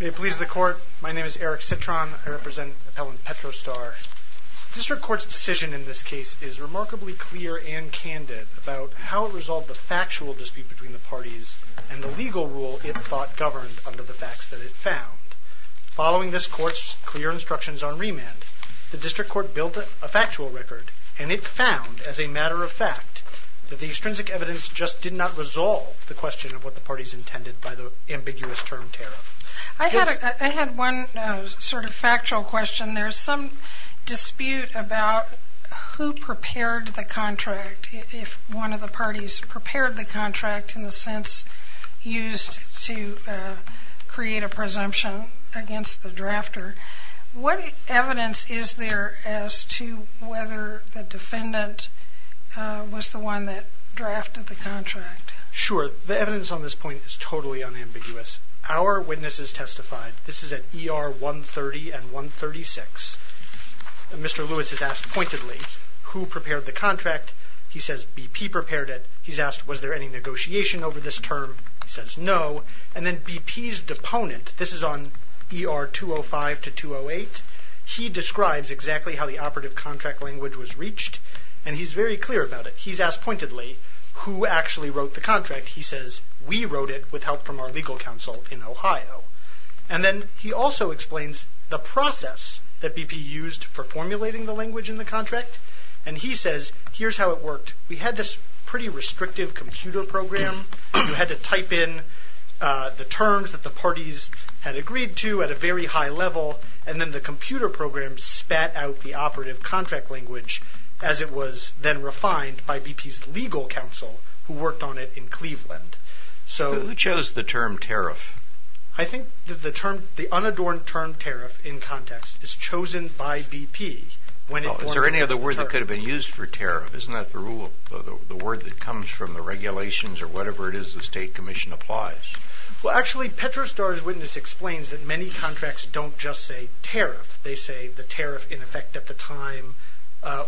May it please the Court, my name is Eric Citron. I represent Appellant Petro Star. The District Court's decision in this case is remarkably clear and candid about how it resolved the factual dispute between the parties and the legal rule it thought governed under the facts that it found. Following this Court's clear instructions on remand, the District Court built a factual record, and it found, as a matter of fact, that the extrinsic evidence just did not resolve the question of what the parties intended by the ambiguous term tariff. I had one sort of factual question. There's some dispute about who prepared the contract, if one of the parties prepared the contract in the sense used to create a presumption against the drafter. What evidence is there as to whether the defendant was the one that drafted the contract? Sure. The evidence on this point is totally unambiguous. Our witnesses testified. This is at ER 130 and 136. Mr. Lewis is asked pointedly who prepared the contract. He says BP prepared it. He's asked was there any negotiation over this term. He says no. And then BP's deponent, this is on ER 205 to 208, he describes exactly how the operative contract language was reached, and he's very clear about it. He's asked pointedly who actually wrote the contract. He says we wrote it with help from our legal counsel in Ohio. And then he also explains the process that BP used for formulating the language in the contract, and he says here's how it worked. We had this pretty restrictive computer program. You had to type in the terms that the parties had agreed to at a very high level, and then the computer program spat out the operative contract language as it was then refined by BP's legal counsel, who worked on it in Cleveland. Who chose the term tariff? I think the unadorned term tariff in context is chosen by BP. Is there any other word that could have been used for tariff? Isn't that the word that comes from the regulations or whatever it is the state commission applies? Well, actually, Petrostar's witness explains that many contracts don't just say tariff. They say the tariff in effect at the time,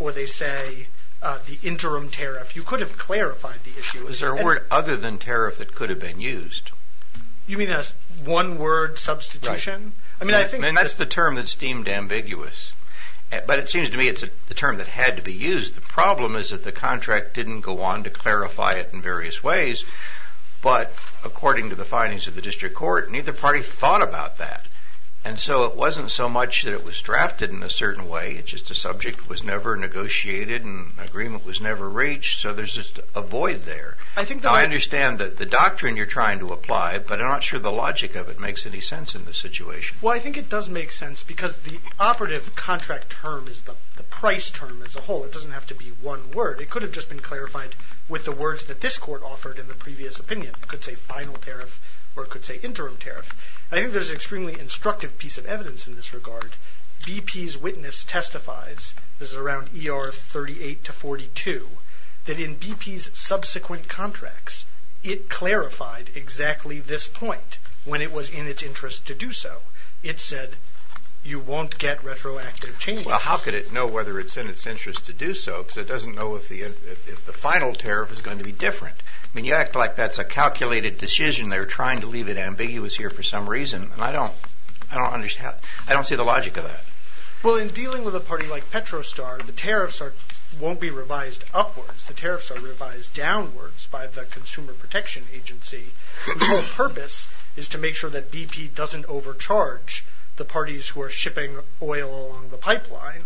or they say the interim tariff. You could have clarified the issue. Is there a word other than tariff that could have been used? You mean a one-word substitution? Right. I mean, that's the term that's deemed ambiguous. But it seems to me it's the term that had to be used. The problem is that the contract didn't go on to clarify it in various ways. But according to the findings of the district court, neither party thought about that. And so it wasn't so much that it was drafted in a certain way. It's just a subject that was never negotiated and agreement was never reached. So there's just a void there. I understand the doctrine you're trying to apply, but I'm not sure the logic of it makes any sense in this situation. Well, I think it does make sense because the operative contract term is the price term as a whole. It doesn't have to be one word. It could have just been clarified with the words that this court offered in the previous opinion. It could say final tariff or it could say interim tariff. I think there's an extremely instructive piece of evidence in this regard. BP's witness testifies, this is around ER 38 to 42, that in BP's subsequent contracts, it clarified exactly this point when it was in its interest to do so. It said you won't get retroactive changes. Well, how could it know whether it's in its interest to do so because it doesn't know if the final tariff is going to be different. I mean, you act like that's a calculated decision. They're trying to leave it ambiguous here for some reason, and I don't see the logic of that. Well, in dealing with a party like Petrostar, the tariffs won't be revised upwards. The tariffs are revised downwards by the Consumer Protection Agency, whose whole purpose is to make sure that BP doesn't overcharge the parties who are shipping oil along the pipeline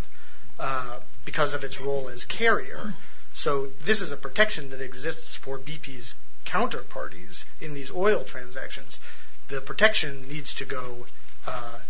because of its role as carrier. So this is a protection that exists for BP's counterparties in these oil transactions. The protection needs to go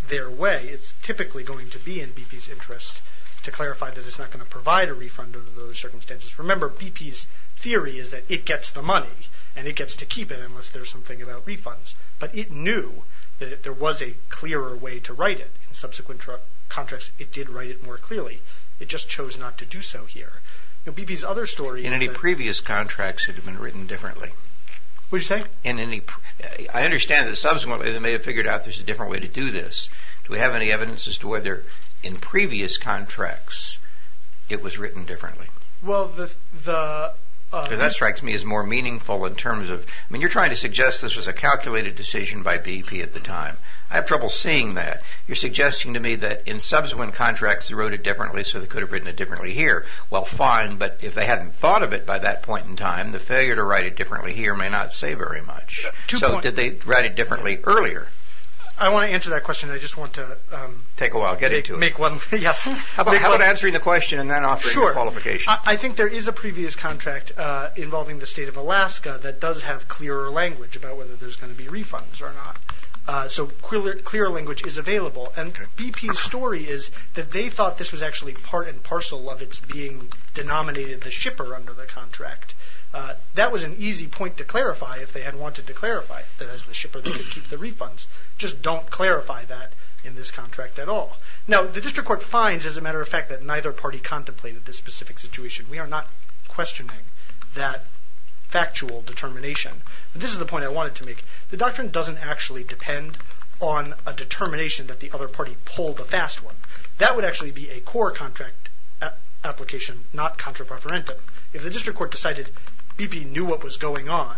their way. It's typically going to be in BP's interest to clarify that it's not going to provide a refund under those circumstances. Remember, BP's theory is that it gets the money, and it gets to keep it unless there's something about refunds. But it knew that there was a clearer way to write it. In subsequent contracts, it did write it more clearly. It just chose not to do so here. BP's other story is that... In any previous contracts, it would have been written differently. What did you say? I understand that subsequently they may have figured out there's a different way to do this. Do we have any evidence as to whether in previous contracts it was written differently? Well, the... Because that strikes me as more meaningful in terms of... I mean, you're trying to suggest this was a calculated decision by BP at the time. I have trouble seeing that. You're suggesting to me that in subsequent contracts they wrote it differently so they could have written it differently here. Well, fine, but if they hadn't thought of it by that point in time, the failure to write it differently here may not say very much. So did they write it differently earlier? I want to answer that question. I just want to... Take a while. Get into it. How about answering the question and then offering a qualification? Sure. I think there is a previous contract involving the state of Alaska that does have clearer language about whether there's going to be refunds or not. So clearer language is available. And BP's story is that they thought this was actually part and parcel of its being denominated the shipper under the contract. That was an easy point to clarify if they had wanted to clarify that as the shipper they could keep the refunds. Just don't clarify that in this contract at all. Now, the district court finds, as a matter of fact, that neither party contemplated this specific situation. We are not questioning that factual determination. This is the point I wanted to make. The doctrine doesn't actually depend on a determination that the other party pulled a fast one. That would actually be a core contract application, not contra preferentum. If the district court decided BP knew what was going on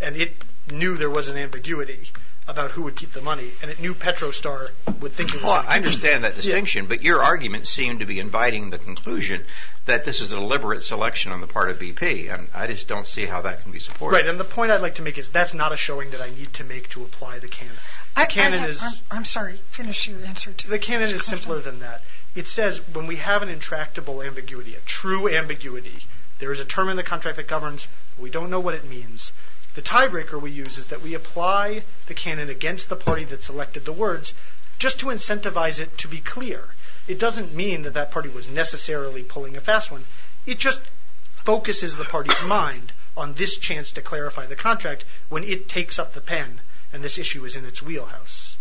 and it knew there was an ambiguity about who would keep the money and it knew Petrostar would think... I understand that distinction, but your argument seemed to be inviting the conclusion that this is a deliberate selection on the part of BP. I just don't see how that can be supported. Right, and the point I'd like to make is that's not a showing that I need to make to apply the canon. I'm sorry, finish your answer. The canon is simpler than that. It says when we have an intractable ambiguity, a true ambiguity, there is a term in the contract that governs. We don't know what it means. The tiebreaker we use is that we apply the canon against the party that selected the words just to incentivize it to be clear. It doesn't mean that that party was necessarily pulling a fast one. It just focuses the party's mind on this chance to clarify the contract when it takes up the pen and this issue is in its wheelhouse.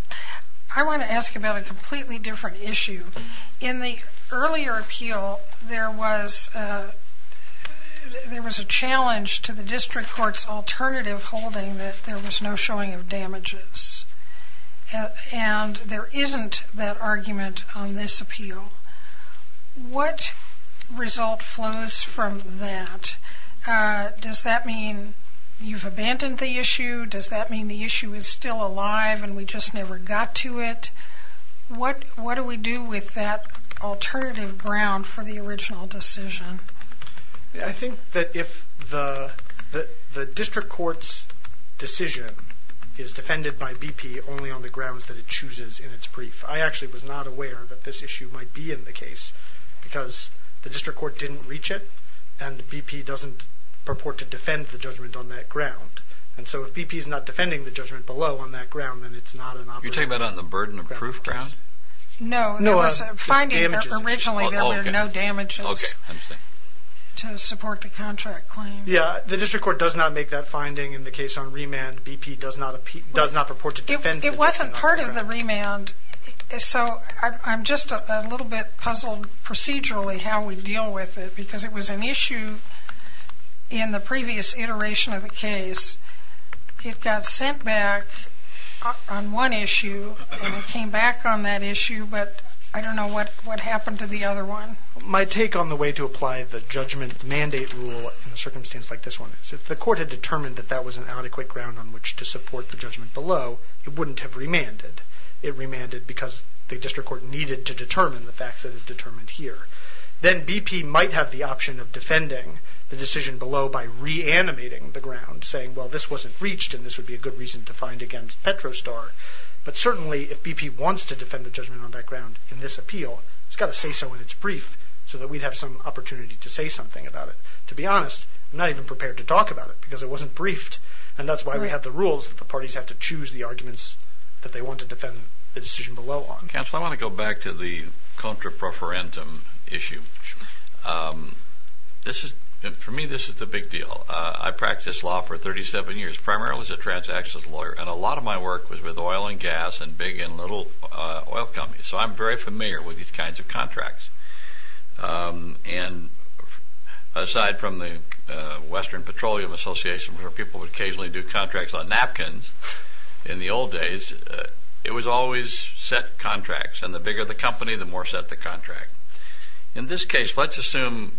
I want to ask about a completely different issue. In the earlier appeal, there was a challenge to the district court's alternative holding that there was no showing of damages, and there isn't that argument on this appeal. What result flows from that? Does that mean you've abandoned the issue? Does that mean the issue is still alive and we just never got to it? What do we do with that alternative ground for the original decision? I think that if the district court's decision is defended by BP only on the grounds that it chooses in its brief, I actually was not aware that this issue might be in the case because the district court didn't reach it, and BP doesn't purport to defend the judgment on that ground. And so if BP is not defending the judgment below on that ground, then it's not an option. You're talking about on the burden of proof ground? No, there was a finding originally that there were no damages to support the contract claim. Yeah, the district court does not make that finding in the case on remand. BP does not purport to defend the judgment on that ground. It wasn't part of the remand, so I'm just a little bit puzzled procedurally how we deal with it because it was an issue in the previous iteration of the case. It got sent back on one issue and it came back on that issue, but I don't know what happened to the other one. My take on the way to apply the judgment mandate rule in a circumstance like this one is if the court had determined that that was an adequate ground on which to support the judgment below, it wouldn't have remanded. It remanded because the district court needed to determine the facts that are determined here. Then BP might have the option of defending the decision below by reanimating the ground, saying, well, this wasn't reached and this would be a good reason to find against Petrostar. But certainly if BP wants to defend the judgment on that ground in this appeal, it's got to say so in its brief so that we'd have some opportunity to say something about it. To be honest, I'm not even prepared to talk about it because it wasn't briefed, and that's why we have the rules that the parties have to choose the arguments that they want to defend the decision below on. Counsel, I want to go back to the contra preferentum issue. For me, this is the big deal. I practiced law for 37 years, primarily as a transaction lawyer, and a lot of my work was with oil and gas and big and little oil companies, so I'm very familiar with these kinds of contracts. And aside from the Western Petroleum Association, where people would occasionally do contracts on napkins in the old days, it was always set contracts, and the bigger the company, the more set the contract. In this case, let's assume,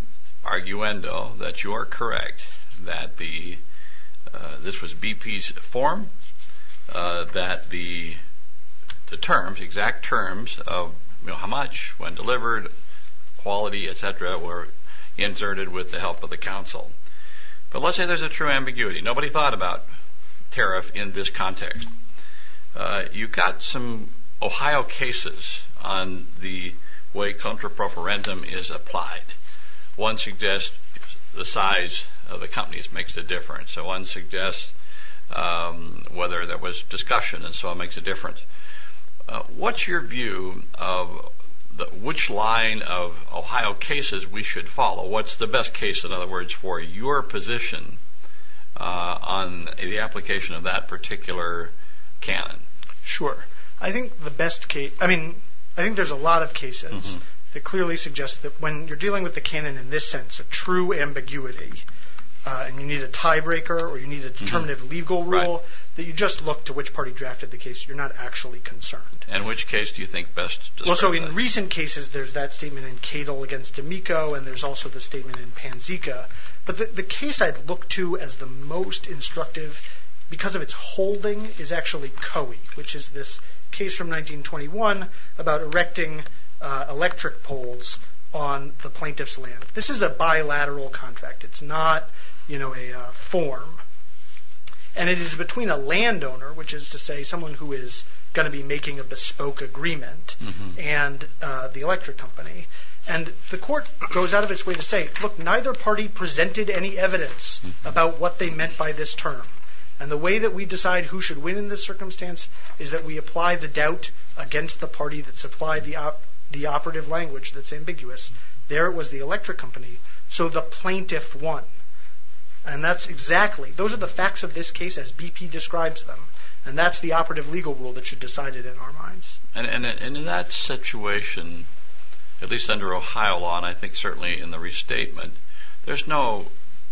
arguendo, that you are correct, that this was BP's form, that the terms, exact terms of how much, when delivered, quality, et cetera, were inserted with the help of the counsel. But let's say there's a true ambiguity. Nobody thought about tariff in this context. You've got some Ohio cases on the way contra preferentum is applied. One suggests the size of the companies makes a difference, so one suggests whether there was discussion, and so it makes a difference. What's your view of which line of Ohio cases we should follow? What's the best case, in other words, for your position on the application of that particular canon? Sure. I think the best case, I mean, I think there's a lot of cases that clearly suggest that when you're dealing with the canon in this sense, a true ambiguity, and you need a tiebreaker or you need a determinative legal rule, that you just look to which party drafted the case. You're not actually concerned. And which case do you think best? Well, so in recent cases, there's that statement in Cato against D'Amico, and there's also the statement in Panzeca. But the case I'd look to as the most instructive because of its holding is actually Coey, which is this case from 1921 about erecting electric poles on the plaintiff's land. This is a bilateral contract. It's not a form, and it is between a landowner, which is to say someone who is going to be making a bespoke agreement, and the electric company. And the court goes out of its way to say, look, neither party presented any evidence about what they meant by this term. And the way that we decide who should win in this circumstance is that we apply the doubt against the party that supplied the operative language that's ambiguous. There was the electric company, so the plaintiff won. And that's exactly, those are the facts of this case as BP describes them, and that's the operative legal rule that should decide it in our minds. And in that situation, at least under Ohio law, and I think certainly in the restatement, there's no,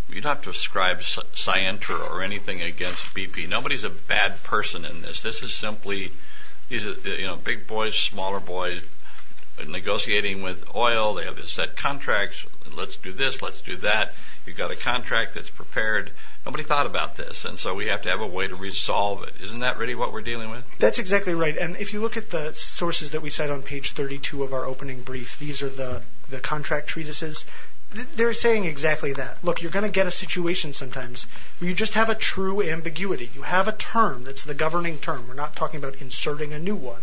you don't have to ascribe scienter or anything against BP. Nobody's a bad person in this. This is simply, you know, big boys, smaller boys negotiating with oil. They have a set contract. Let's do this, let's do that. You've got a contract that's prepared. Nobody thought about this, and so we have to have a way to resolve it. Isn't that really what we're dealing with? That's exactly right. And if you look at the sources that we cite on page 32 of our opening brief, these are the contract treatises. They're saying exactly that. Look, you're going to get a situation sometimes where you just have a true ambiguity. You have a term that's the governing term. We're not talking about inserting a new one.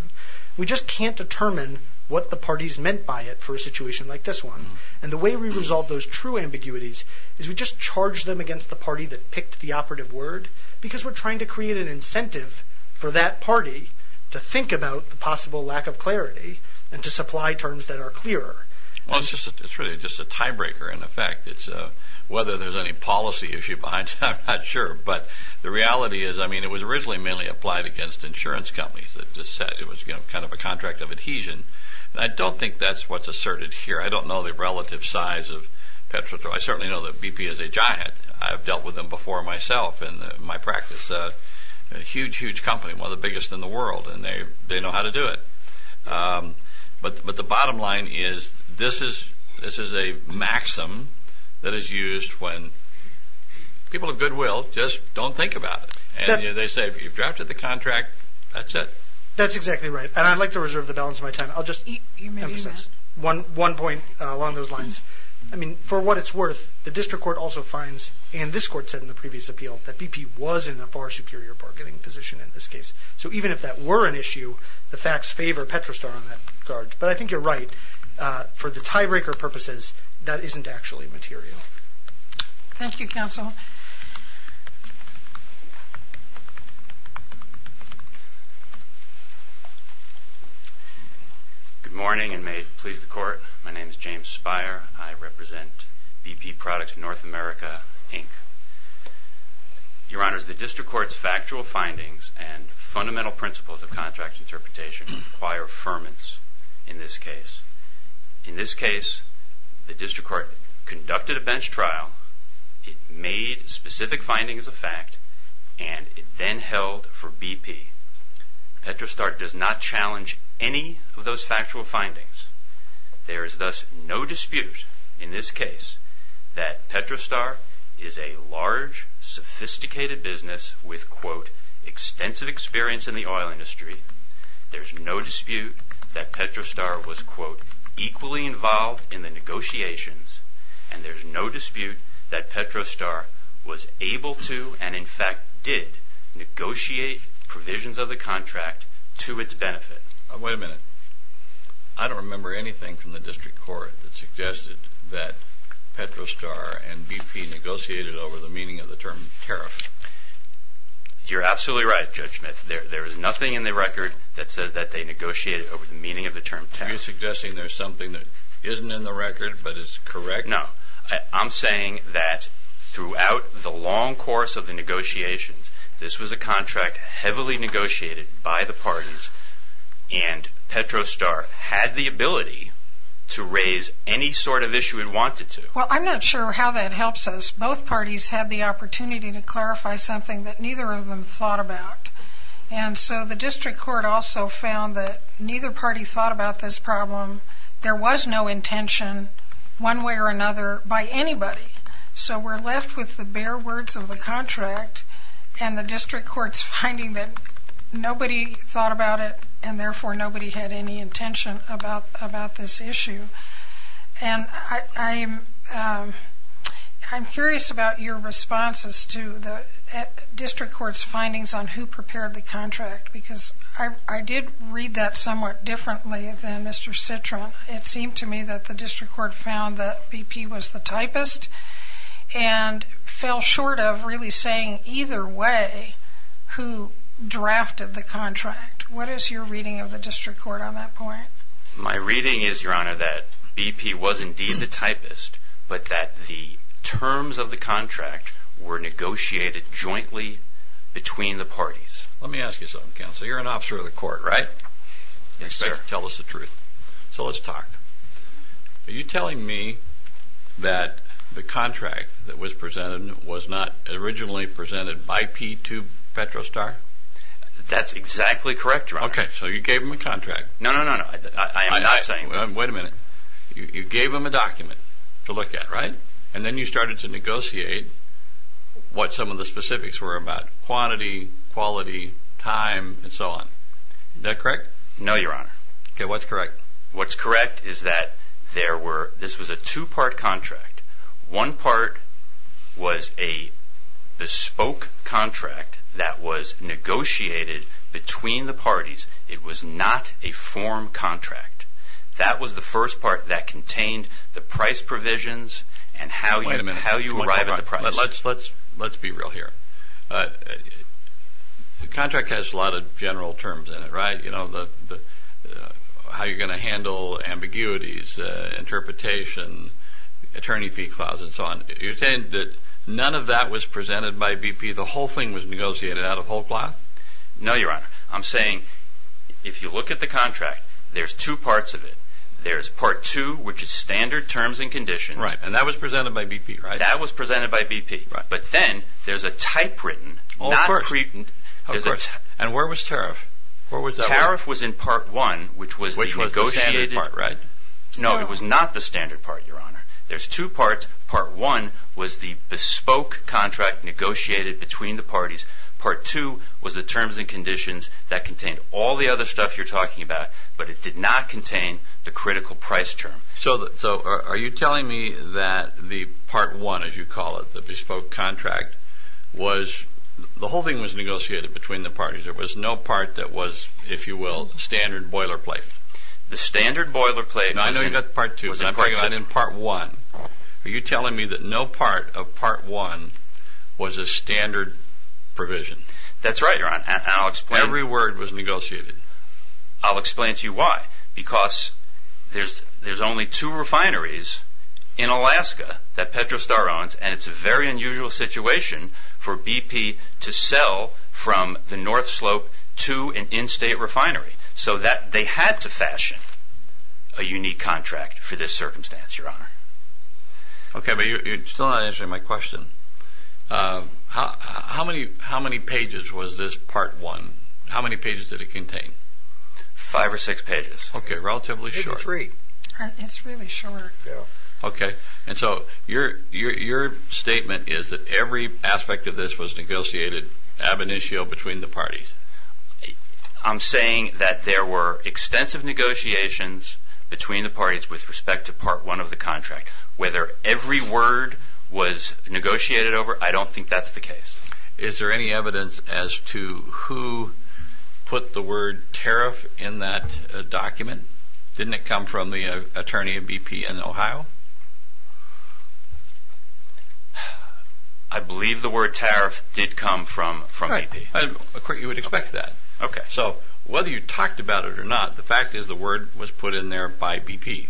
We just can't determine what the parties meant by it for a situation like this one. And the way we resolve those true ambiguities is we just charge them against the party that picked the operative word because we're trying to create an incentive for that party to think about the possible lack of clarity and to supply terms that are clearer. Well, it's really just a tiebreaker in effect. Whether there's any policy issue behind it, I'm not sure. But the reality is, I mean, it was originally mainly applied against insurance companies. It was kind of a contract of adhesion. I don't think that's what's asserted here. I don't know the relative size of Petro. I certainly know that BP is a giant. I've dealt with them before myself in my practice. A huge, huge company, one of the biggest in the world, and they know how to do it. But the bottom line is this is a maxim that is used when people of goodwill just don't think about it. And they say, if you've drafted the contract, that's it. That's exactly right, and I'd like to reserve the balance of my time. I'll just emphasize one point along those lines. I mean, for what it's worth, the district court also finds, and this court said in the previous appeal, that BP was in a far superior bargaining position in this case. So even if that were an issue, the facts favor Petrostar on that regard. But I think you're right. For the tiebreaker purposes, that isn't actually material. Thank you, counsel. Good morning, and may it please the court. My name is James Spire. I represent BP Products of North America, Inc. Your Honor, the district court's factual findings and fundamental principles of contract interpretation require affirmance in this case. In this case, the district court conducted a bench trial. It made specific findings of fact, and it then held for BP. Petrostar does not challenge any of those factual findings. There is thus no dispute in this case that Petrostar is a large, sophisticated business with, quote, equally involved in the negotiations, and there's no dispute that Petrostar was able to, and in fact did, negotiate provisions of the contract to its benefit. Wait a minute. I don't remember anything from the district court that suggested that Petrostar and BP negotiated over the meaning of the term tariff. You're absolutely right, Judge Smith. There is nothing in the record that says that they negotiated over the meaning of the term tariff. Are you suggesting there's something that isn't in the record but is correct? No. I'm saying that throughout the long course of the negotiations, this was a contract heavily negotiated by the parties, and Petrostar had the ability to raise any sort of issue it wanted to. Well, I'm not sure how that helps us. Both parties had the opportunity to clarify something that neither of them thought about, And so the district court also found that neither party thought about this problem. There was no intention, one way or another, by anybody. So we're left with the bare words of the contract and the district court's finding that nobody thought about it, and therefore nobody had any intention about this issue. And I'm curious about your responses to the district court's findings on who prepared the contract, because I did read that somewhat differently than Mr. Citron. It seemed to me that the district court found that BP was the typist and fell short of really saying either way who drafted the contract. What is your reading of the district court on that point? My reading is, Your Honor, that BP was indeed the typist, but that the terms of the contract were negotiated jointly between the parties. Let me ask you something, counsel. You're an officer of the court, right? Yes, sir. Tell us the truth. So let's talk. Are you telling me that the contract that was presented was not originally presented by P2 Petrostar? That's exactly correct, Your Honor. Okay. So you gave them a contract. No, no, no. I am not saying that. Wait a minute. You gave them a document to look at, right? And then you started to negotiate what some of the specifics were about quantity, quality, time, and so on. Is that correct? No, Your Honor. Okay. What's correct? What's correct is that this was a two-part contract. One part was a bespoke contract that was negotiated between the parties. It was not a form contract. That was the first part that contained the price provisions and how you arrive at the price. Wait a minute. Let's be real here. The contract has a lot of general terms in it, right? How you're going to handle ambiguities, interpretation, attorney fee clause, and so on. You're saying that none of that was presented by BP? The whole thing was negotiated out of whole cloth? No, Your Honor. I'm saying if you look at the contract, there's two parts of it. There's part two, which is standard terms and conditions. Right. And that was presented by BP, right? That was presented by BP. Right. But then there's a type written, not pre-written. Of course. And where was tariff? Tariff was in part one, which was the negotiated part. Which was the standard part, right? No, it was not the standard part, Your Honor. There's two parts. Part one was the bespoke contract negotiated between the parties. Part two was the terms and conditions that contained all the other stuff you're talking about, but it did not contain the critical price term. So are you telling me that the part one, as you call it, the bespoke contract, the whole thing was negotiated between the parties? There was no part that was, if you will, standard boilerplate? The standard boilerplate was in part two. No, I know you got part two, but I'm talking about in part one. Are you telling me that no part of part one was a standard provision? That's right, Your Honor. I'll explain. Every word was negotiated. I'll explain to you why. Because there's only two refineries in Alaska that Petrostar owns, and it's a very unusual situation for BP to sell from the North Slope to an in-state refinery. So they had to fashion a unique contract for this circumstance, Your Honor. Okay, but you're still not answering my question. How many pages was this part one? How many pages did it contain? Five or six pages. Okay, relatively short. Maybe three. It's really short. Okay, and so your statement is that every aspect of this was negotiated ab initio between the parties. I'm saying that there were extensive negotiations between the parties with respect to part one of the contract. Whether every word was negotiated over, I don't think that's the case. Is there any evidence as to who put the word tariff in that document? Didn't it come from the attorney of BP in Ohio? I believe the word tariff did come from BP. You would expect that. So whether you talked about it or not, the fact is the word was put in there by BP.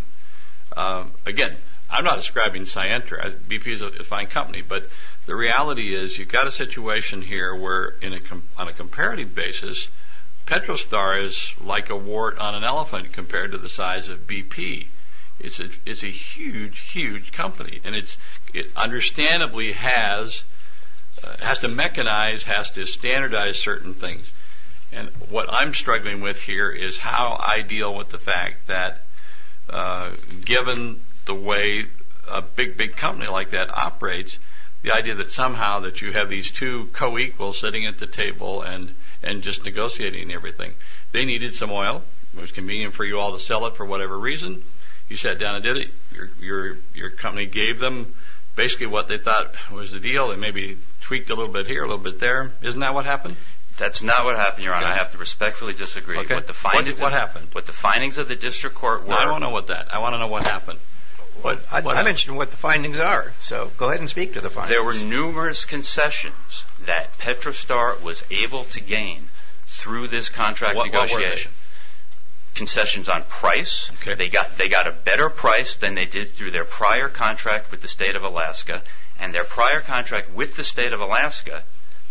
Again, I'm not ascribing Scientra. BP is a fine company, but the reality is you've got a situation here where on a comparative basis, Petrostar is like a wart on an elephant compared to the size of BP. It's a huge, huge company, and it understandably has to mechanize, has to standardize certain things. And what I'm struggling with here is how I deal with the fact that given the way a big, big company like that operates, the idea that somehow that you have these two co-equals sitting at the table and just negotiating everything. They needed some oil. It was convenient for you all to sell it for whatever reason. You sat down and did it. Your company gave them basically what they thought was the deal and maybe tweaked a little bit here, a little bit there. Isn't that what happened? That's not what happened, Your Honor. I have to respectfully disagree. What happened? What the findings of the district court were. I don't know what that. I want to know what happened. I mentioned what the findings are, so go ahead and speak to the findings. There were numerous concessions that Petrostar was able to gain through this contract negotiation. What were they? Concessions on price. They got a better price than they did through their prior contract with the state of Alaska. And their prior contract with the state of Alaska,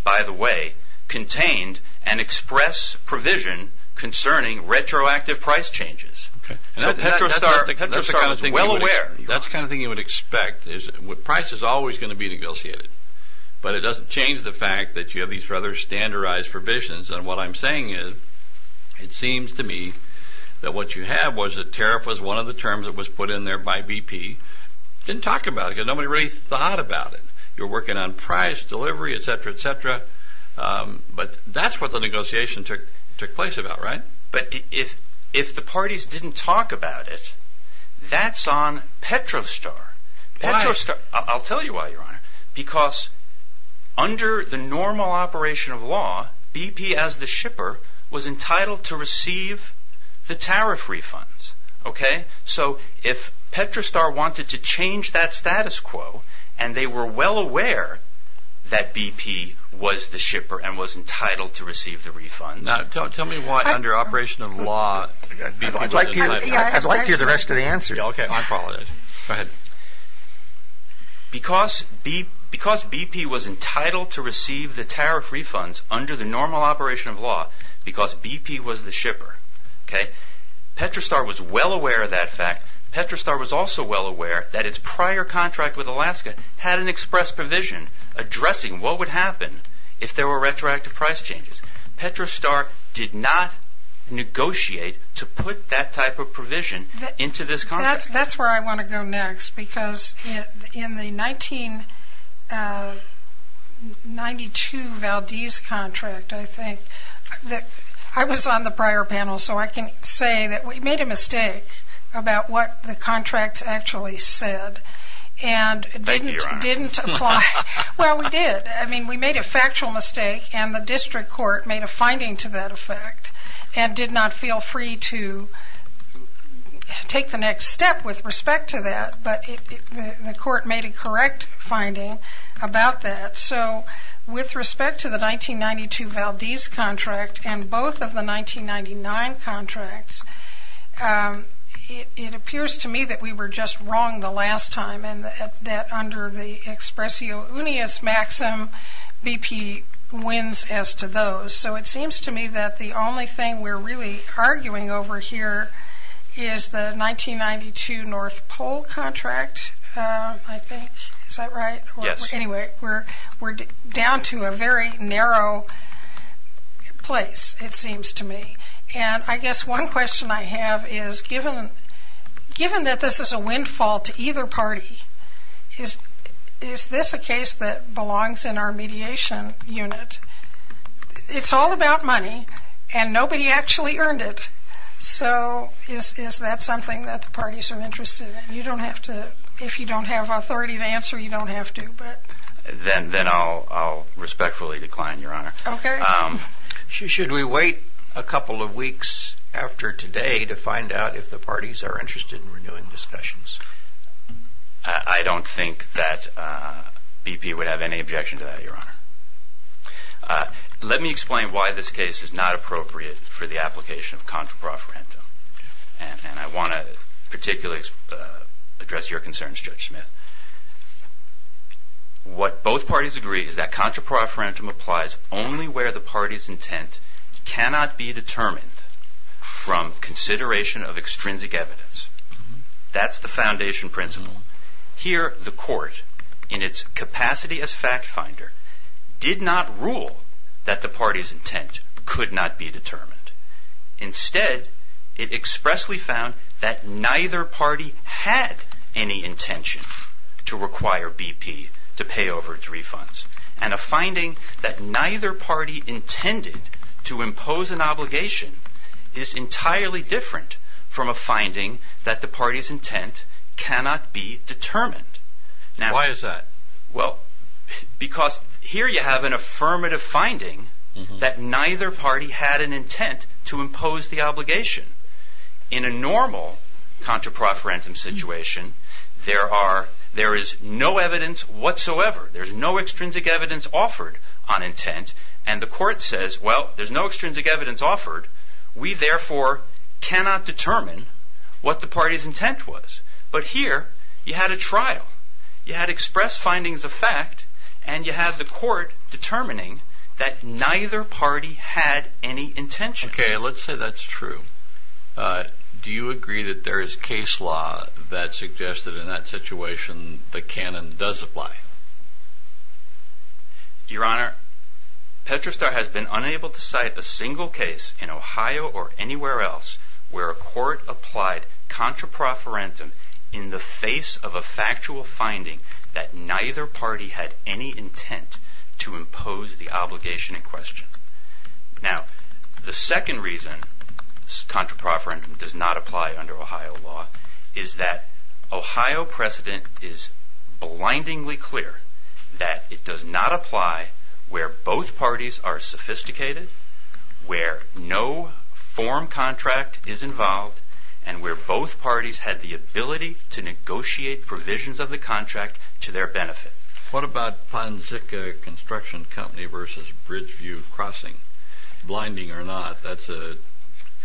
by the way, contained an express provision concerning retroactive price changes. Okay. So Petrostar was well aware. That's the kind of thing you would expect. Price is always going to be negotiated. But it doesn't change the fact that you have these rather standardized provisions. And what I'm saying is it seems to me that what you have was a tariff was one of the terms that was put in there by BP. Didn't talk about it because nobody really thought about it. You're working on price, delivery, et cetera, et cetera. But that's what the negotiation took place about, right? But if the parties didn't talk about it, that's on Petrostar. Why? I'll tell you why, Your Honor. Because under the normal operation of law, BP as the shipper was entitled to receive the tariff refunds. Okay. So if Petrostar wanted to change that status quo and they were well aware that BP was the shipper and was entitled to receive the refunds. Tell me why under operation of law BP was entitled. I'd like to hear the rest of the answer. Okay. I'm following it. Go ahead. Because BP was entitled to receive the tariff refunds under the normal operation of law because BP was the shipper. Okay. Petrostar was well aware of that fact. Petrostar was also well aware that its prior contract with Alaska had an express provision addressing what would happen if there were retroactive price changes. Petrostar did not negotiate to put that type of provision into this contract. That's where I want to go next because in the 1992 Valdez contract, I think, I was on the prior panel, so I can say that we made a mistake about what the contracts actually said and didn't apply. Thank you, Your Honor. Well, we did. I mean, we made a factual mistake and the district court made a finding to that effect and did not feel free to take the next step with respect to that, but the court made a correct finding about that. So with respect to the 1992 Valdez contract and both of the 1999 contracts, it appears to me that we were just wrong the last time and that under the expressio unius maxim, BP wins as to those. So it seems to me that the only thing we're really arguing over here is the 1992 North Pole contract, I think. Is that right? Yes. Anyway, we're down to a very narrow place, it seems to me. And I guess one question I have is given that this is a windfall to either party, is this a case that belongs in our mediation unit? It's all about money and nobody actually earned it. So is that something that the parties are interested in? You don't have to. If you don't have authority to answer, you don't have to. Then I'll respectfully decline, Your Honor. Okay. Should we wait a couple of weeks after today to find out if the parties are interested in renewing discussions? I don't think that BP would have any objection to that, Your Honor. Let me explain why this case is not appropriate for the application of contra profferentum. And I want to particularly address your concerns, Judge Smith. What both parties agree is that contra profferentum applies only where the party's intent cannot be determined from consideration of extrinsic evidence. That's the foundation principle. Here, the court, in its capacity as fact finder, did not rule that the party's intent could not be determined. Instead, it expressly found that neither party had any intention to require BP to pay over its refunds. And a finding that neither party intended to impose an obligation is entirely different from a finding that the party's intent cannot be determined. Why is that? Well, because here you have an affirmative finding that neither party had an intent to impose the obligation. In a normal contra profferentum situation, there is no evidence whatsoever. There's no extrinsic evidence offered on intent. And the court says, well, there's no extrinsic evidence offered. We, therefore, cannot determine what the party's intent was. But here, you had a trial. You had express findings of fact. And you had the court determining that neither party had any intention. Okay, let's say that's true. Do you agree that there is case law that suggests that in that situation the canon does apply? Your Honor, Petrostar has been unable to cite a single case in Ohio or anywhere else where a court applied contra profferentum in the face of a factual finding that neither party had any intent to impose the obligation in question. Now, the second reason contra profferentum does not apply under Ohio law is that Ohio precedent is blindingly clear that it does not apply where both parties are sophisticated, where no form contract is involved, and where both parties had the ability to negotiate provisions of the contract to their benefit. What about Ponzica Construction Company versus Bridgeview Crossing? Blinding or not, that's an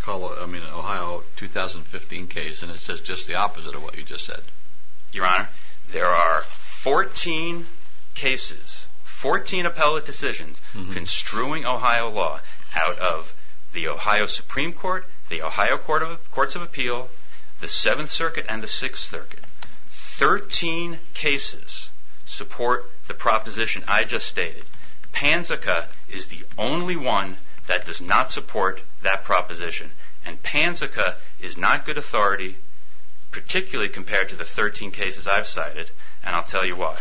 Ohio 2015 case, and it's just the opposite of what you just said. Your Honor, there are 14 cases, 14 appellate decisions construing Ohio law out of the Ohio Supreme Court, the Ohio Courts of Appeal, the Seventh Circuit, and the Sixth Circuit. Thirteen cases support the proposition I just stated. Ponzica is the only one that does not support that proposition, and Ponzica is not good authority, particularly compared to the 13 cases I've cited, and I'll tell you why.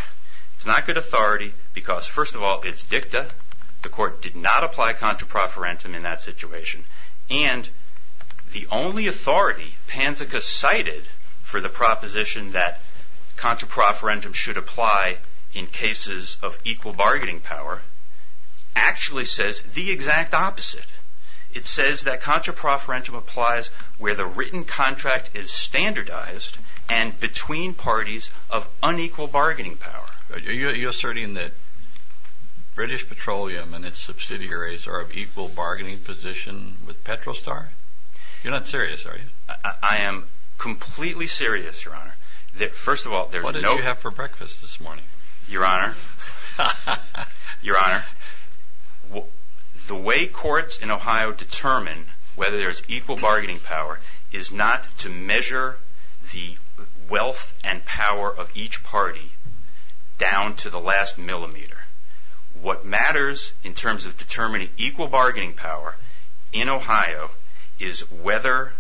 It's not good authority because, first of all, it's dicta. The Court did not apply contra profferentum in that situation, and the only authority Ponzica cited for the proposition that contra profferentum should apply in cases of equal bargaining power actually says the exact opposite. It says that contra profferentum applies where the written contract is standardized and between parties of unequal bargaining power. Are you asserting that British Petroleum and its subsidiaries are of equal bargaining position with Petrostar? You're not serious, are you? I am completely serious, Your Honor. What did you have for breakfast this morning? Your Honor, Your Honor, the way courts in Ohio determine whether there's equal bargaining power is not to measure the wealth and power of each party down to the last millimeter. What matters in terms of determining equal bargaining power in Ohio is whether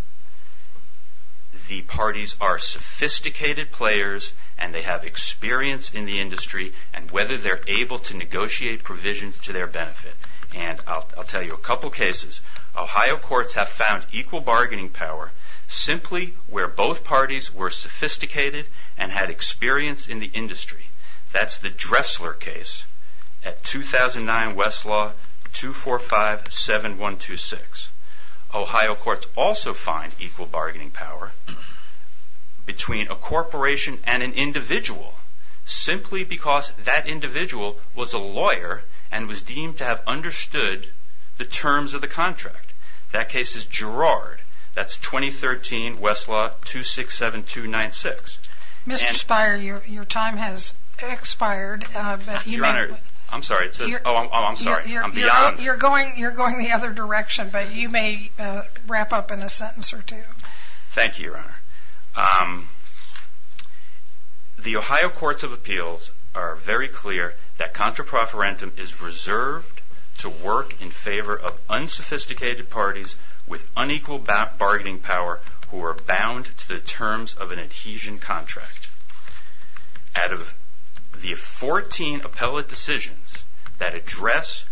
the parties are sophisticated players and they have experience in the industry and whether they're able to negotiate provisions to their benefit. And I'll tell you a couple cases. Ohio courts have found equal bargaining power simply where both parties were sophisticated and had experience in the industry. That's the Dressler case at 2009 Westlaw 2457126. Ohio courts also find equal bargaining power between a corporation and an individual simply because that individual was a lawyer and was deemed to have understood the terms of the contract. That case is Girard. That's 2013 Westlaw 267296. Mr. Spire, your time has expired. Your Honor, I'm sorry. Oh, I'm sorry. I'm beyond. You're going the other direction, but you may wrap up in a sentence or two. Thank you, Your Honor. The Ohio courts of appeals are very clear that contraproferentum is reserved to work in favor of unsophisticated parties with unequal bargaining power who are bound to the terms of an adhesion contract. Out of the 14 appellate decisions that address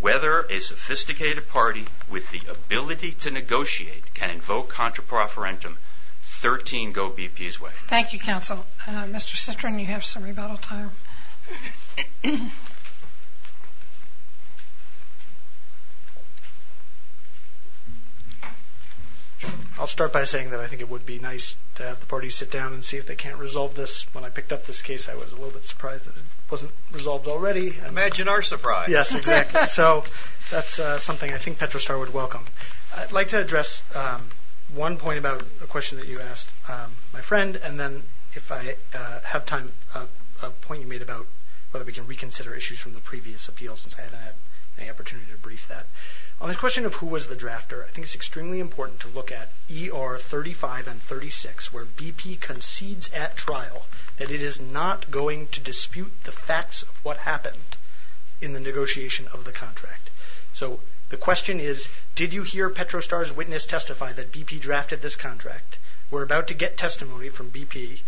whether a sophisticated party with the ability to negotiate can invoke contraproferentum, 13 go BP's way. Thank you, counsel. Mr. Citrin, you have some rebuttal time. I'll start by saying that I think it would be nice to have the parties sit down and see if they can't resolve this. When I picked up this case, I was a little bit surprised that it wasn't resolved already. Imagine our surprise. Yes, exactly. So that's something I think Petrostar would welcome. I'd like to address one point about a question that you asked my friend, and then if I have time, a point you made about whether we can reconsider issues from the previous appeal since I haven't had any opportunity to brief that. On the question of who was the drafter, I think it's extremely important to look at ER 35 and 36 where BP concedes at trial that it is not going to dispute the facts of what happened in the negotiation of the contract. So the question is, did you hear Petrostar's witness testify that BP drafted this contract? We're about to get testimony from BP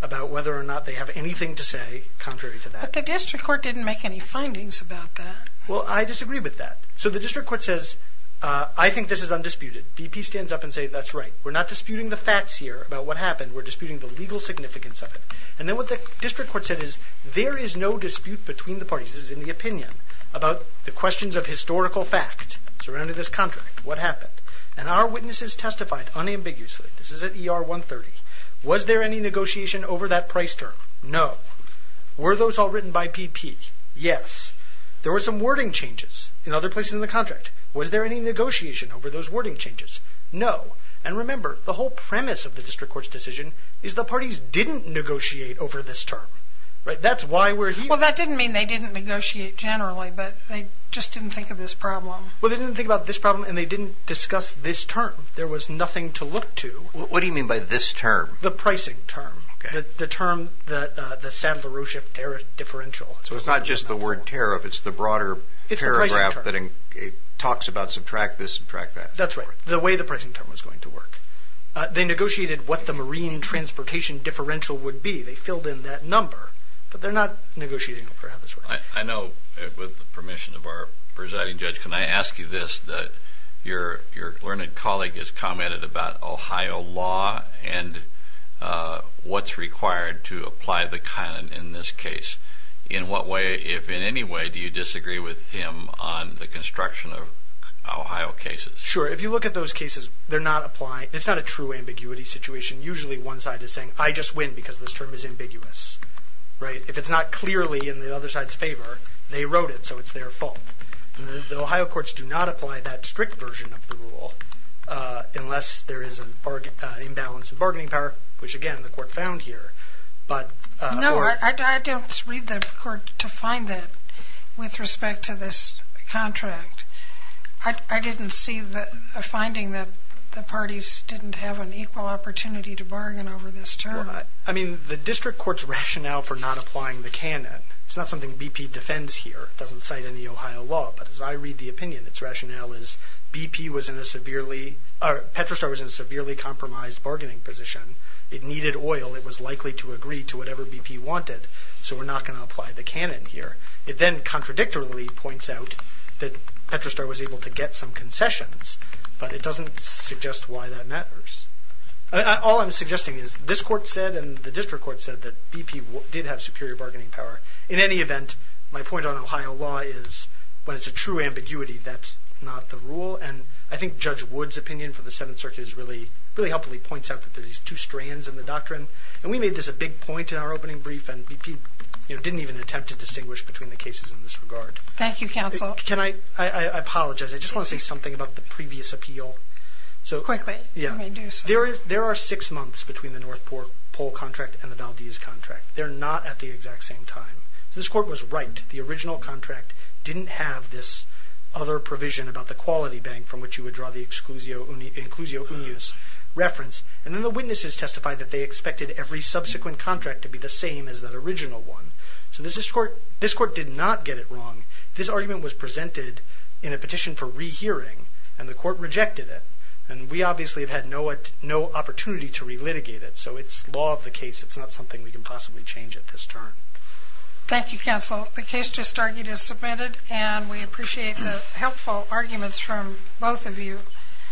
about whether or not they have anything to say contrary to that. But the district court didn't make any findings about that. Well, I disagree with that. So the district court says, I think this is undisputed. BP stands up and says, that's right. We're not disputing the facts here about what happened. We're disputing the legal significance of it. And then what the district court said is, there is no dispute between the parties. This is in the opinion about the questions of historical fact surrounding this contract. What happened? And our witnesses testified unambiguously. This is at ER 130. Was there any negotiation over that price term? No. Were those all written by BP? Yes. There were some wording changes in other places in the contract. Was there any negotiation over those wording changes? No. And remember, the whole premise of the district court's decision is the parties didn't negotiate over this term. Right? That's why we're here. Well, that didn't mean they didn't negotiate generally, but they just didn't think of this problem. Well, they didn't think about this problem, and they didn't discuss this term. There was nothing to look to. What do you mean by this term? The pricing term. Okay. The term, the Sandler-Rosheff tariff differential. So it's not just the word tariff. It's the broader paragraph that talks about subtract this, subtract that. That's right. The way the pricing term was going to work. They negotiated what the marine transportation differential would be. They filled in that number, but they're not negotiating over how this works. I know, with the permission of our presiding judge, can I ask you this? Your learned colleague has commented about Ohio law and what's required to apply the kind in this case. In what way, if in any way, do you disagree with him on the construction of Ohio cases? Sure. If you look at those cases, it's not a true ambiguity situation. Usually one side is saying, I just win because this term is ambiguous. If it's not clearly in the other side's favor, they wrote it, so it's their fault. The Ohio courts do not apply that strict version of the rule unless there is an imbalance in bargaining power, which, again, the court found here. No, I don't read the court to find that with respect to this contract. I didn't see a finding that the parties didn't have an equal opportunity to bargain over this term. I mean, the district court's rationale for not applying the canon, it's not something BP defends here. It doesn't cite any Ohio law, but as I read the opinion, its rationale is BP was in a severely, Petrostar was in a severely compromised bargaining position. It needed oil. It was likely to agree to whatever BP wanted, so we're not going to apply the canon here. It then contradictorily points out that Petrostar was able to get some concessions, but it doesn't suggest why that matters. All I'm suggesting is this court said and the district court said that BP did have superior bargaining power. In any event, my point on Ohio law is when it's a true ambiguity, that's not the rule, and I think Judge Wood's opinion for the Seventh Circuit really helpfully points out that there are two strands in the doctrine, and we made this a big point in our opening brief, and BP didn't even attempt to distinguish between the cases in this regard. Thank you, counsel. I apologize. I just want to say something about the previous appeal. Quickly. There are six months between the North Pole contract and the Valdez contract. They're not at the exact same time. This court was right. The original contract didn't have this other provision about the quality bank from which you would draw the exclusio unius reference, and then the witnesses testified that they expected every subsequent contract to be the same as that original one. So this court did not get it wrong. This argument was presented in a petition for rehearing, and the court rejected it, and we obviously have had no opportunity to relitigate it, so it's law of the case. It's not something we can possibly change at this turn. Thank you, counsel. The case just argued is submitted, and we appreciate the helpful arguments from both of you.